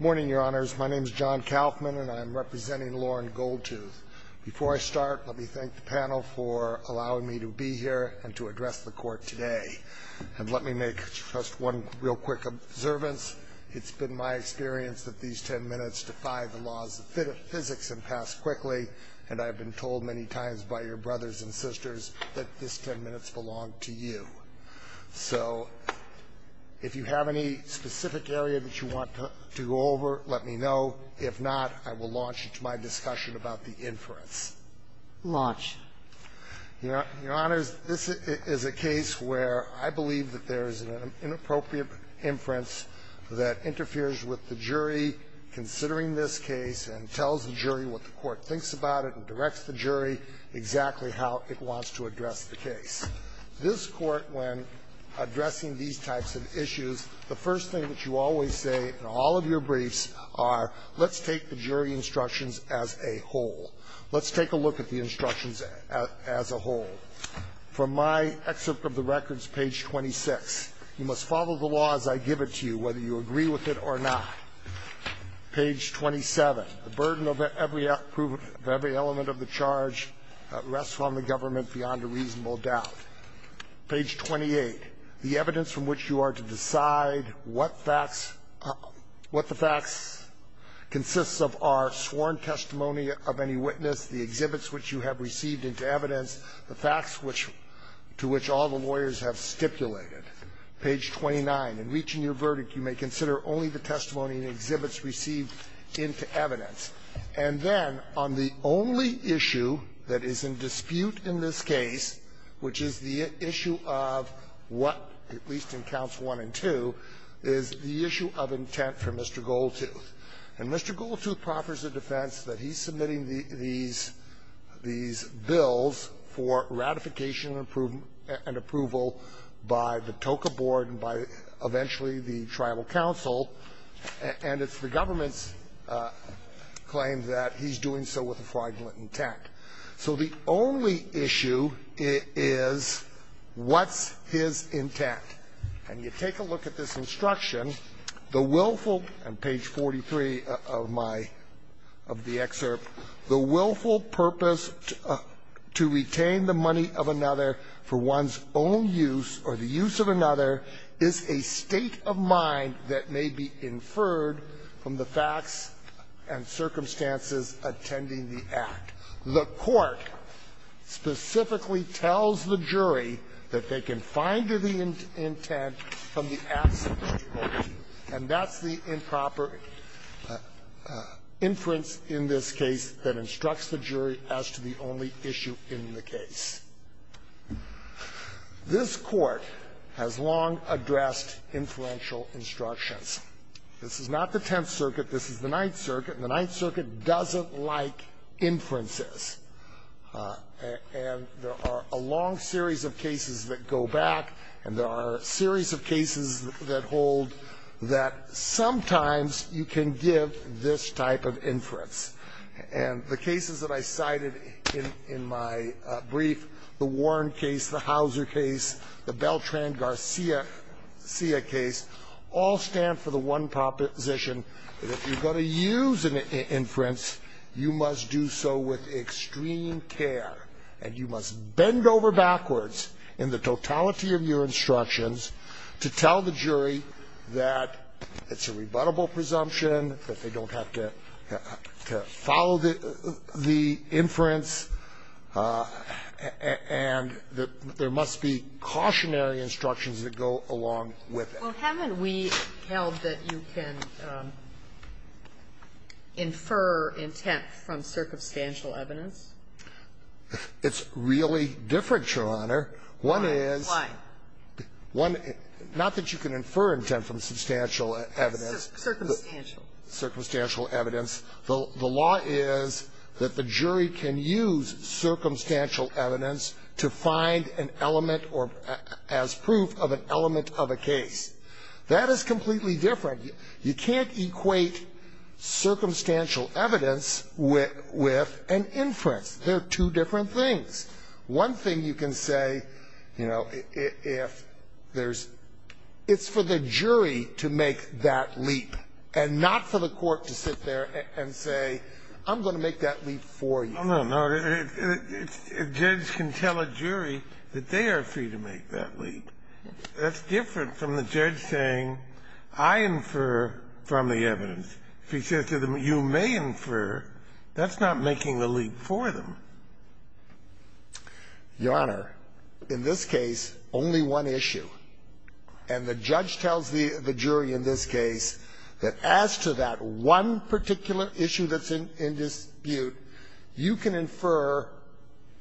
Morning, your honors. My name is John Kaufman and I'm representing Loren Goldtooth. Before I start, let me thank the panel for allowing me to be here and to address the court today. And let me make just one real quick observance. It's been my experience that these ten minutes defy the laws of physics and pass quickly, and I've been told many times by your brothers and sisters that these ten minutes belong to you. So if you have any specific area that you want to go over, let me know. If not, I will launch into my discussion about the inference. Launch. Your honors, this is a case where I believe that there is an inappropriate inference that interferes with the jury considering this case and tells the jury what the court thinks about it and directs the jury exactly how it wants to address the case. This Court, when addressing these types of issues, the first thing that you always say in all of your briefs are let's take the jury instructions as a whole. Let's take a look at the instructions as a whole. From my excerpt of the records, page 26, you must follow the law as I give it to you, whether you agree with it or not. Page 27, the burden of every element of the charge rests on the government beyond a reasonable doubt. Page 28, the evidence from which you are to decide what facts – what the facts consist of are sworn testimony of any witness, the exhibits which you have received into evidence, the facts which – to which all the lawyers have stipulated. Page 29, in reaching your verdict, you may consider only the testimony and exhibits received into evidence. And then, on the only issue that is in dispute in this case, which is the issue of what, at least in counts one and two, is the issue of intent for Mr. Goldtooth. And Mr. Goldtooth proffers a defense that he's submitting the – these – these bills for ratification and approval by the TOCA board and by, eventually, the tribal council, and it's the government's claim that he's doing so with a fraudulent intent. So the only issue is what's his intent. And you take a look at this instruction, the willful – and page 43 of my – of the excerpt, the willful purpose to retain the money of another for one's own use or the jury that may be inferred from the facts and circumstances attending the act. The court specifically tells the jury that they can find the intent from the absence of Goldtooth, and that's the improper inference in this case that instructs the jury as to the only issue in the case. This Court has long addressed inferential instructions. This is not the Tenth Circuit. This is the Ninth Circuit, and the Ninth Circuit doesn't like inferences. And there are a long series of cases that go back, and there are a series of cases that hold that sometimes you can give this type of inference. And the cases that I cited in my brief, the Warren case, the Hauser case, the Beltran Garcia case, all stand for the one proposition that if you're going to use an inference, you must do so with extreme care, and you must bend over backwards in the totality of your instructions to tell the jury that it's a rebuttable presumption, that they don't have to follow the inference, and that there must be cautionary instructions that go along with it. Well, haven't we held that you can infer intent from circumstantial evidence? It's really different, Your Honor. One is one not that you can infer intent from substantial evidence. Circumstantial. Circumstantial evidence. The law is that the jury can use circumstantial evidence to find an element or as proof of an element of a case. That is completely different. You can't equate circumstantial evidence with an inference. They're two different things. One thing you can say, you know, if there's, it's for the jury to make that leap. And not for the court to sit there and say, I'm going to make that leap for you. No, no. A judge can tell a jury that they are free to make that leap. That's different from the judge saying, I infer from the evidence. If he says to them, you may infer, that's not making the leap for them. Your Honor, in this case, only one issue. And the judge tells the jury in this case that as to that one particular issue that's in dispute, you can infer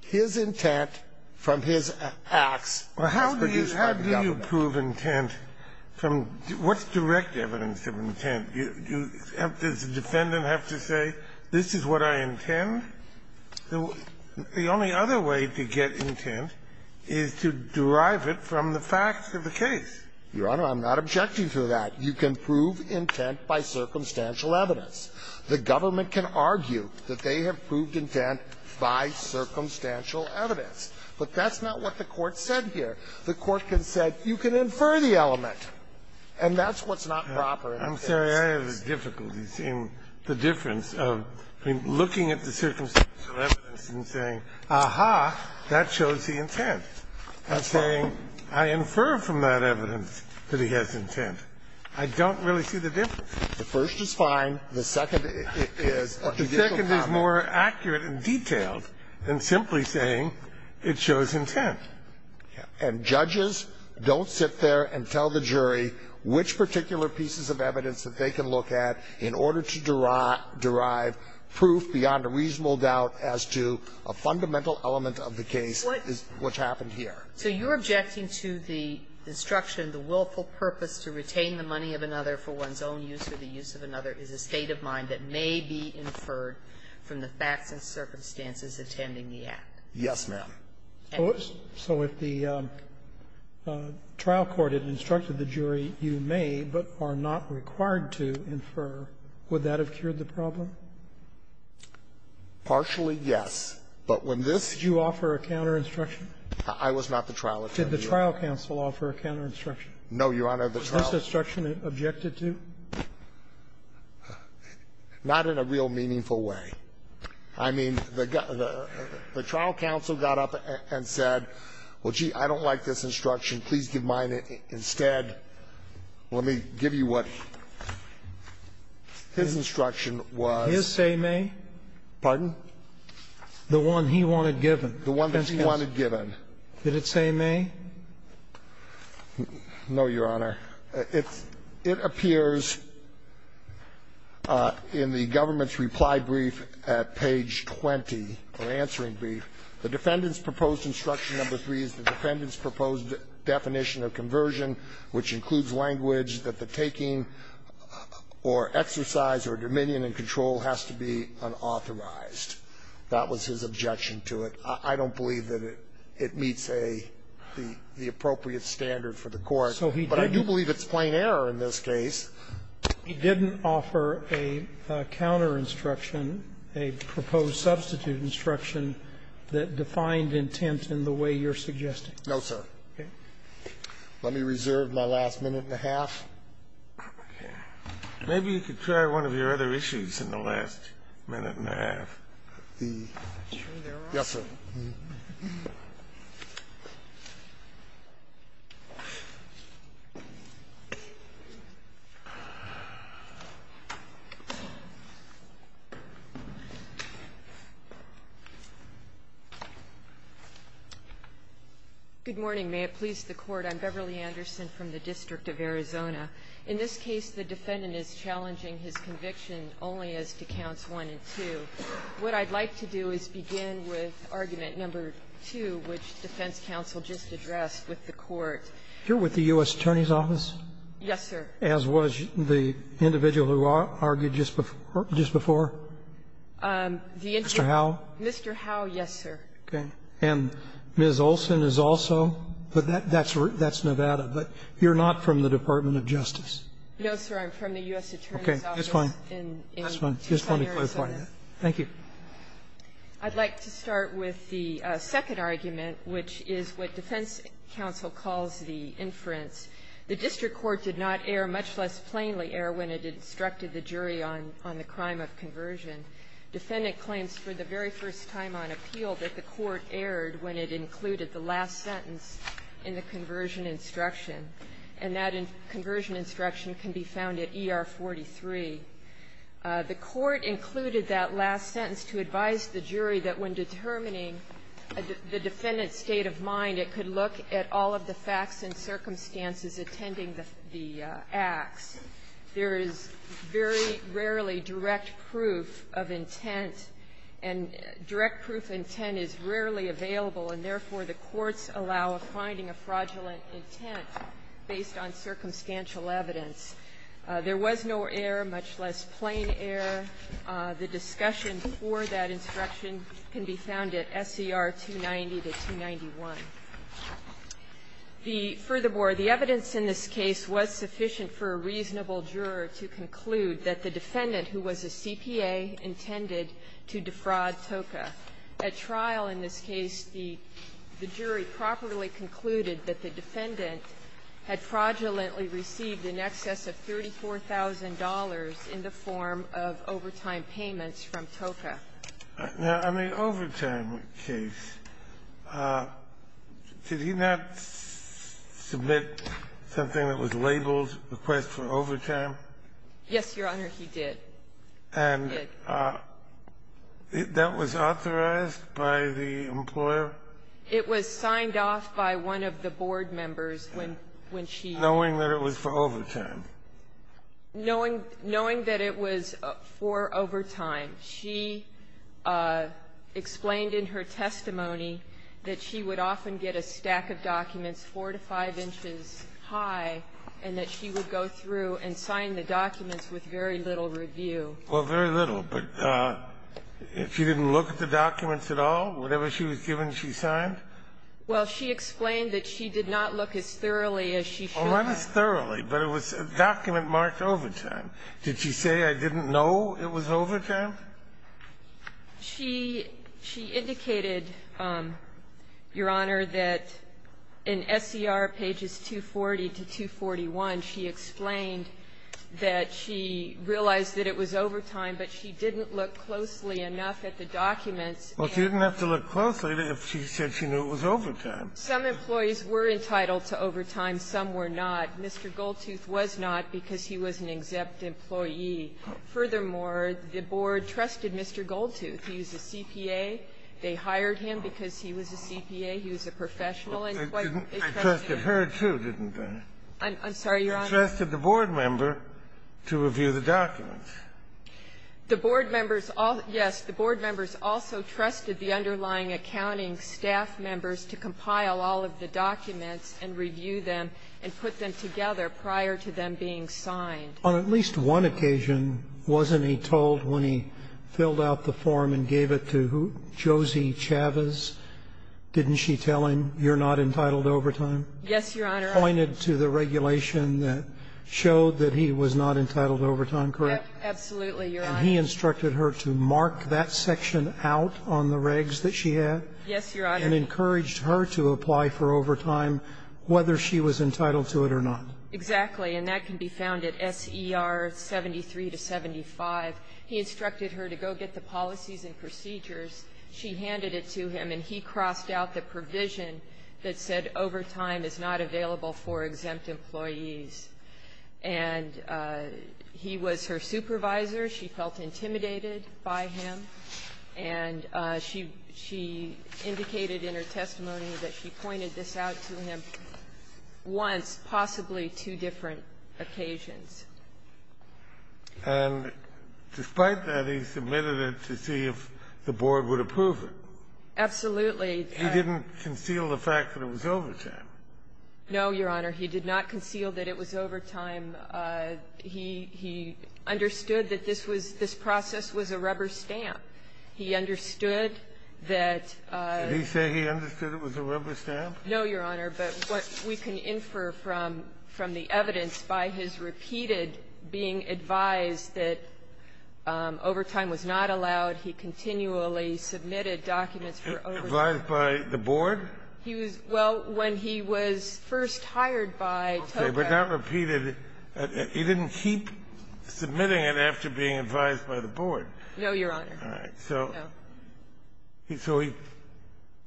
his intent from his acts as produced by the government. Kennedy, how do you prove intent from, what's direct evidence of intent? Does the defendant have to say, this is what I intend? The only other way to get intent is to derive it from the facts of the case. Your Honor, I'm not objecting to that. You can prove intent by circumstantial evidence. The government can argue that they have proved intent by circumstantial evidence. But that's not what the Court said here. The Court said you can infer the element. And that's what's not proper in this case. I'm sorry, I have difficulty seeing the difference of looking at the circumstantial evidence and saying, ah-ha, that shows the intent, and saying, I infer from that evidence that he has intent. I don't really see the difference. The first is fine. The second is a judicial comment. The second is more accurate and detailed than simply saying it shows intent. And judges don't sit there and tell the jury which particular pieces of evidence that they can look at in order to derive proof beyond a reasonable doubt as to a fundamental element of the case is what's happened here. So you're objecting to the instruction, the willful purpose to retain the money of another for one's own use or the use of another is a state of mind that may be inferred from the facts and circumstances attending the act? Yes, ma'am. So if the trial court had instructed the jury, you may, but are not required to, infer, would that have cured the problem? Partially, yes. But when this ---- Did you offer a counterinstruction? I was not the trial attorney. Did the trial counsel offer a counterinstruction? No, Your Honor, the trial ---- Was this instruction objected to? Not in a real meaningful way. I mean, the trial counsel got up and said, well, gee, I don't like this instruction. Please give mine instead. Let me give you what his instruction was. His say may? Pardon? The one he wanted given. The one that he wanted given. Did it say may? No, Your Honor. It appears in the government's reply brief at page 20, or answering brief, the defendant's proposed instruction number three is the defendant's proposed definition of conversion, which includes language that the taking or exercise or dominion and control has to be unauthorized. That was his objection to it. I don't believe that it meets a ---- the appropriate standard for the court. But I do believe it's plain error in this case. He didn't offer a counterinstruction, a proposed substitute instruction that defined intent in the way you're suggesting. No, sir. Okay. Let me reserve my last minute and a half. Maybe you could try one of your other issues in the last minute and a half. The ---- I'm sure there are. Yes, sir. Good morning. May it please the Court. I'm Beverly Anderson from the District of Arizona. In this case, the defendant is challenging his conviction only as to Counts 1 and 2. What I'd like to do is begin with arguing that the defendant's argument, number 2, which defense counsel just addressed with the Court ---- You're with the U.S. Attorney's Office? Yes, sir. As was the individual who argued just before? Mr. Howe? Mr. Howe, yes, sir. Okay. And Ms. Olson is also? But that's Nevada. But you're not from the Department of Justice? No, sir. I'm from the U.S. Attorney's Office in Arizona. Okay. That's fine. That's fine. Just let me clarify that. Thank you. I'd like to start with the second argument, which is what defense counsel calls the inference. The district court did not err, much less plainly err, when it instructed the jury on the crime of conversion. Defendant claims for the very first time on appeal that the court erred when it included the last sentence in the conversion instruction, and that conversion instruction can be found at ER 43. The court included that last sentence to advise the jury that when determining the defendant's state of mind, it could look at all of the facts and circumstances attending the acts. There is very rarely direct proof of intent, and direct proof of intent is rarely available, and therefore, the courts allow finding a fraudulent intent based on circumstantial evidence. There was no err, much less plain err. The discussion for that instruction can be found at SCR 290 to 291. The – furthermore, the evidence in this case was sufficient for a reasonable juror to conclude that the defendant, who was a CPA, intended to defraud TOCA. At trial in this case, the jury properly concluded that the defendant had fraudulently received in excess of $34,000 in the form of overtime payments from TOCA. Now, in the overtime case, did he not submit something that was labeled, Request for Overtime? Yes, Your Honor, he did. And that was authorized by the employer? It was signed off by one of the board members when she – Knowing that it was for overtime? Knowing – knowing that it was for overtime. She explained in her testimony that she would often get a stack of documents 4 to 5 inches high and that she would go through and sign the documents with very little review. Well, very little. But if she didn't look at the documents at all, whatever she was given, she signed? Well, she explained that she did not look as thoroughly as she should. Not as thoroughly, but it was a document marked overtime. Did she say, I didn't know it was overtime? She indicated, Your Honor, that in SCR pages 240 to 241, she explained that she realized that it was overtime, but she didn't look closely enough at the documents. Well, she didn't have to look closely if she said she knew it was overtime. Some employees were entitled to overtime. Some were not. Mr. Goldtooth was not because he was an exempt employee. Furthermore, the board trusted Mr. Goldtooth. He was a CPA. They hired him because he was a CPA. He was a professional and quite a trustee. I trusted her, too, didn't I? I'm sorry, Your Honor. I trusted the board member to review the documents. The board members all – yes, the board members also trusted the underlying accounting staff members to compile all of the documents and review them and put them together prior to them being signed. On at least one occasion, wasn't he told when he filled out the form and gave it to Josie Chavez, didn't she tell him, you're not entitled to overtime? Yes, Your Honor. Pointed to the regulation that showed that he was not entitled to overtime, correct? Absolutely, Your Honor. And he instructed her to mark that section out on the regs that she had? Yes, Your Honor. And encouraged her to apply for overtime, whether she was entitled to it or not? Exactly. And that can be found at SER 73 to 75. He instructed her to go get the policies and procedures. She handed it to him, and he crossed out the provision that said overtime is not available for exempt employees. And he was her supervisor. She felt intimidated by him, and she indicated in her testimony that she pointed this out to him once, possibly two different occasions. And despite that, he submitted it to see if the board would approve it? Absolutely. He didn't conceal the fact that it was overtime? No, Your Honor. He did not conceal that it was overtime. He understood that this was this process was a rubber stamp. He understood that he said he understood it was a rubber stamp? No, Your Honor. But what we can infer from the evidence by his repeated being advised that overtime was not allowed, he continually submitted documents for overtime. Advised by the board? He was well, when he was first hired by TOCA. But not repeated. He didn't keep submitting it after being advised by the board. No, Your Honor. All right. So he so he,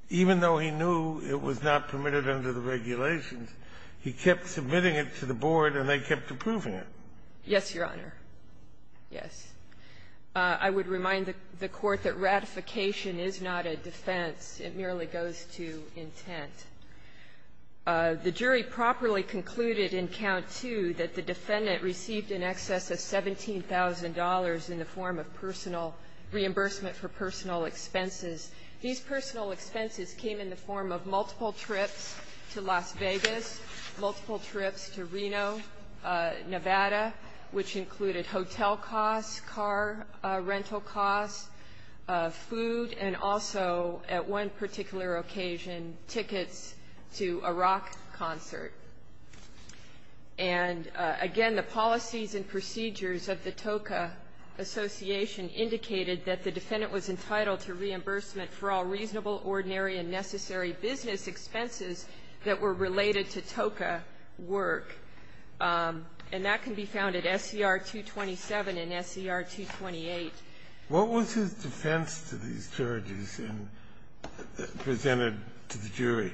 even though he knew it was not permitted under the regulations, he kept submitting it to the board, and they kept approving it. Yes, Your Honor. Yes. I would remind the Court that ratification is not a defense. It merely goes to intent. The jury properly concluded in Count II that the defendant received in excess of $17,000 in the form of personal reimbursement for personal expenses. These personal expenses came in the form of multiple trips to Las Vegas, multiple trips to Reno, Nevada, which included hotel costs, car rental costs, food, and also at one particular occasion, tickets to a rock concert. And again, the policies and procedures of the TOCA Association indicated that the defendant was entitled to reimbursement for all reasonable, ordinary, and necessary business expenses that were related to TOCA work. And that can be found at SCR-227 and SCR-228. What was his defense to these charges presented to the jury?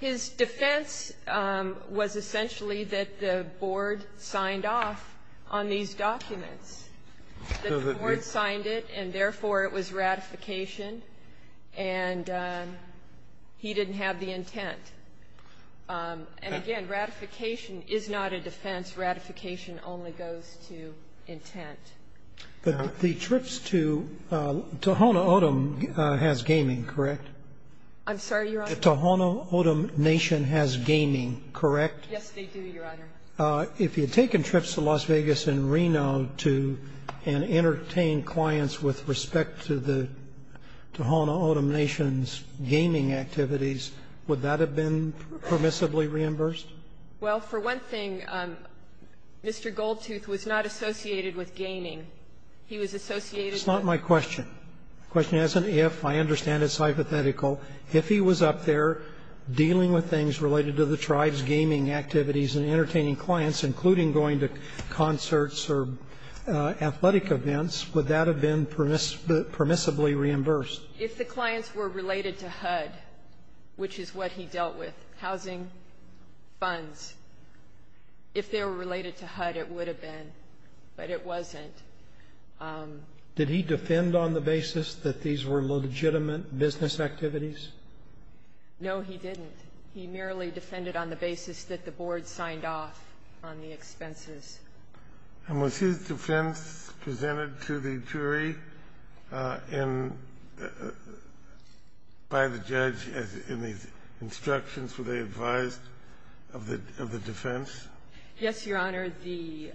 His defense was essentially that the board signed off on these documents, that the board signed it, and therefore it was ratification, and he didn't have the intent. And again, ratification is not a defense. Ratification only goes to intent. But the trips to Tohono O'odham has gaming, correct? I'm sorry, Your Honor? The Tohono O'odham Nation has gaming, correct? Yes, they do, Your Honor. If he had taken trips to Las Vegas and Reno to entertain clients with respect to the Tohono O'odham Nation's gaming activities, would that have been permissibly reimbursed? Well, for one thing, Mr. Goldtooth was not associated with gaming. He was associated with the tohono o'odham nation's gaming activities. That's not my question. The question isn't if. I understand it's hypothetical. If he was up there dealing with things related to the tribe's gaming activities and entertaining clients, including going to concerts or athletic events, would that have been permissibly reimbursed? If the clients were related to HUD, which is what he dealt with, housing, and other funds, if they were related to HUD, it would have been. But it wasn't. Did he defend on the basis that these were legitimate business activities? No, he didn't. He merely defended on the basis that the board signed off on the expenses. And was his defense presented to the jury by the judge in the instructions were they advised of the defense? Yes, Your Honor. The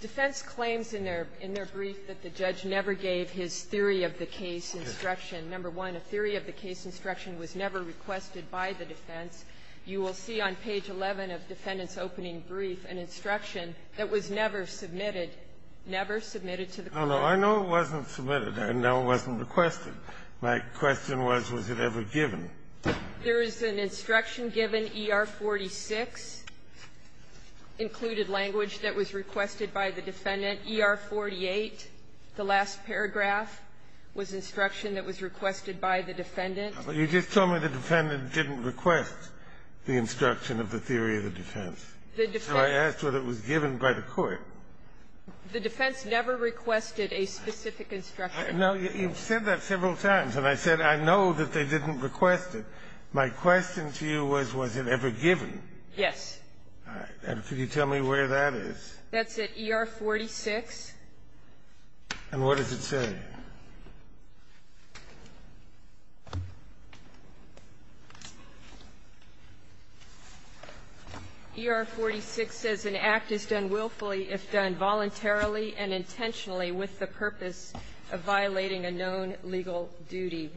defense claims in their brief that the judge never gave his theory of the case instruction. Number one, a theory of the case instruction was never requested by the defense. You will see on page 11 of the defendant's opening brief an instruction that was never submitted, never submitted to the court. Oh, no. I know it wasn't submitted. I know it wasn't requested. My question was, was it ever given? There is an instruction given, ER46, included language that was requested by the defendant. ER48, the last paragraph, was instruction that was requested by the defendant. You just told me the defendant didn't request the instruction of the theory of the defense. The defense So I asked whether it was given by the court. The defense never requested a specific instruction. No, you've said that several times. And I said I know that they didn't request it. My question to you was, was it ever given? Yes. All right. And could you tell me where that is? That's at ER46. And what does it say? ER46 says an act is done willfully if done voluntarily and intentionally with the purpose of violating a known legal duty.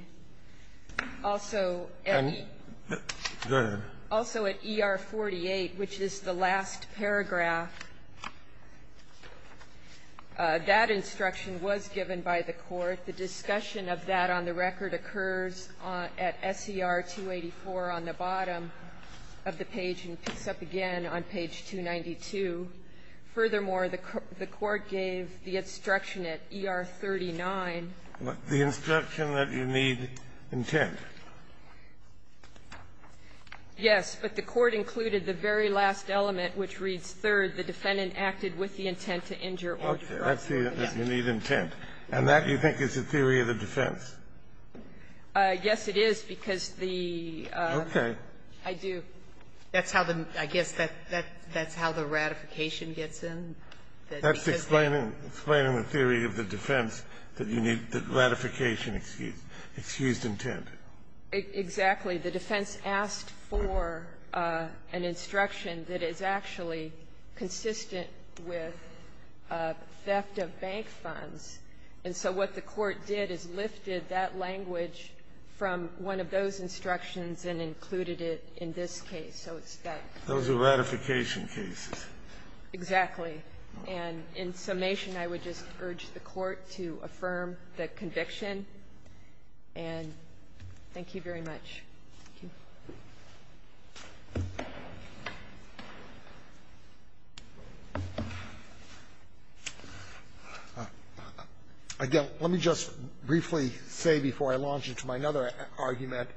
Also at ER48, which is the last paragraph, that instruction was given by the court. The discussion of that on the record occurs at SER 284 on the bottom of the page and picks up again on page 292. Furthermore, the court gave the instruction at ER39. The instruction that you need intent. Yes. But the court included the very last element, which reads, third, the defendant acted with the intent to injure or to violate a known legal duty. Okay. That's the need intent. And that, you think, is the theory of the defense? Yes, it is, because the the I do. That's how the, I guess, that's how the ratification gets in? That's explaining the theory of the defense, that you need the ratification excuse, excused intent. Exactly. The defense asked for an instruction that is actually consistent with theft of bank funds. And so what the court did is lifted that language from one of those instructions and included it in this case. So it's that. Those are ratification cases. Exactly. And in summation, I would just urge the Court to affirm the conviction. And thank you very much. Thank you. Again, let me just briefly say before I launch into my other argument,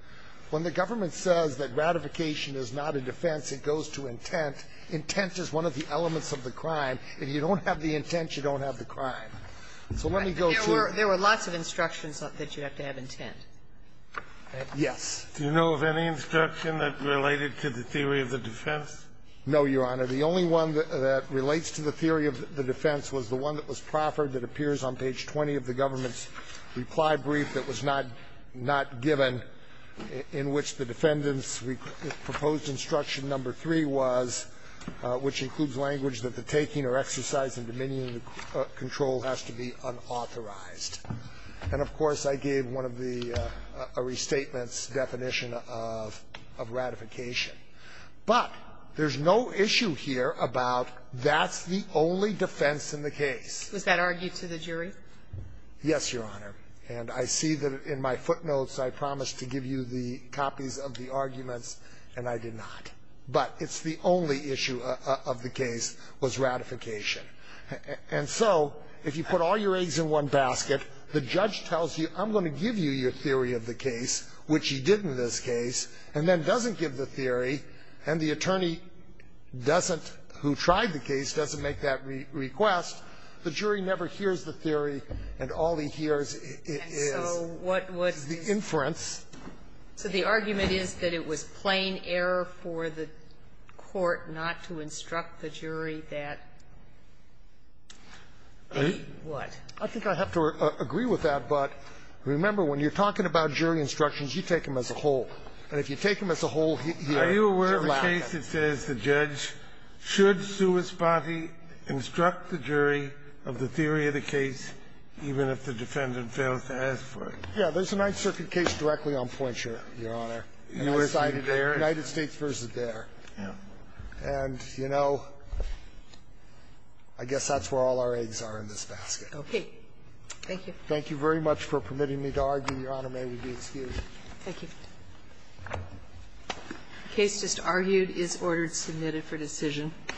when the government says that ratification is not a defense, it goes to intent. Intent is one of the elements of the crime. If you don't have the intent, you don't have the crime. So let me go to the next one. There were lots of instructions that you have to have intent. Yes. Do you know of any instruction that related to the theory of the defense? No, Your Honor. The only one that relates to the theory of the defense was the one that was proffered that appears on page 20 of the government's reply brief that was not given, in which the defendant's proposed instruction number three was, which includes language that the taking or exercise and dominion of control has to be unauthorized. And of course, I gave one of the restatements definition of ratification. But there's no issue here about that's the only defense in the case. Was that argued to the jury? Yes, Your Honor. And I see that in my footnotes, I promised to give you the copies of the arguments, and I did not. But it's the only issue of the case was ratification. And so if you put all your eggs in one basket, the judge tells you, I'm going to give you your theory of the case, which he did in this case, and then doesn't give the theory, and the attorney doesn't, who tried the case, doesn't make that request, the jury never hears the theory, and all he hears is the inference. And so what was the argument is that it was plain error for the court not to instruct the jury that, what? I think I have to agree with that, but remember, when you're talking about jury instructions, you take them as a whole. And if you take them as a whole here, you're lacking. In this case, it says the judge should sui spati, instruct the jury of the theory of the case, even if the defendant fails to ask for it. Yeah. There's a Ninth Circuit case directly on points, Your Honor, United States v. Dare. And, you know, I guess that's where all our eggs are in this basket. Okay. Thank you. Thank you very much for permitting me to argue. Your Honor, may we be excused. Thank you. The case just argued is ordered submitted for decision.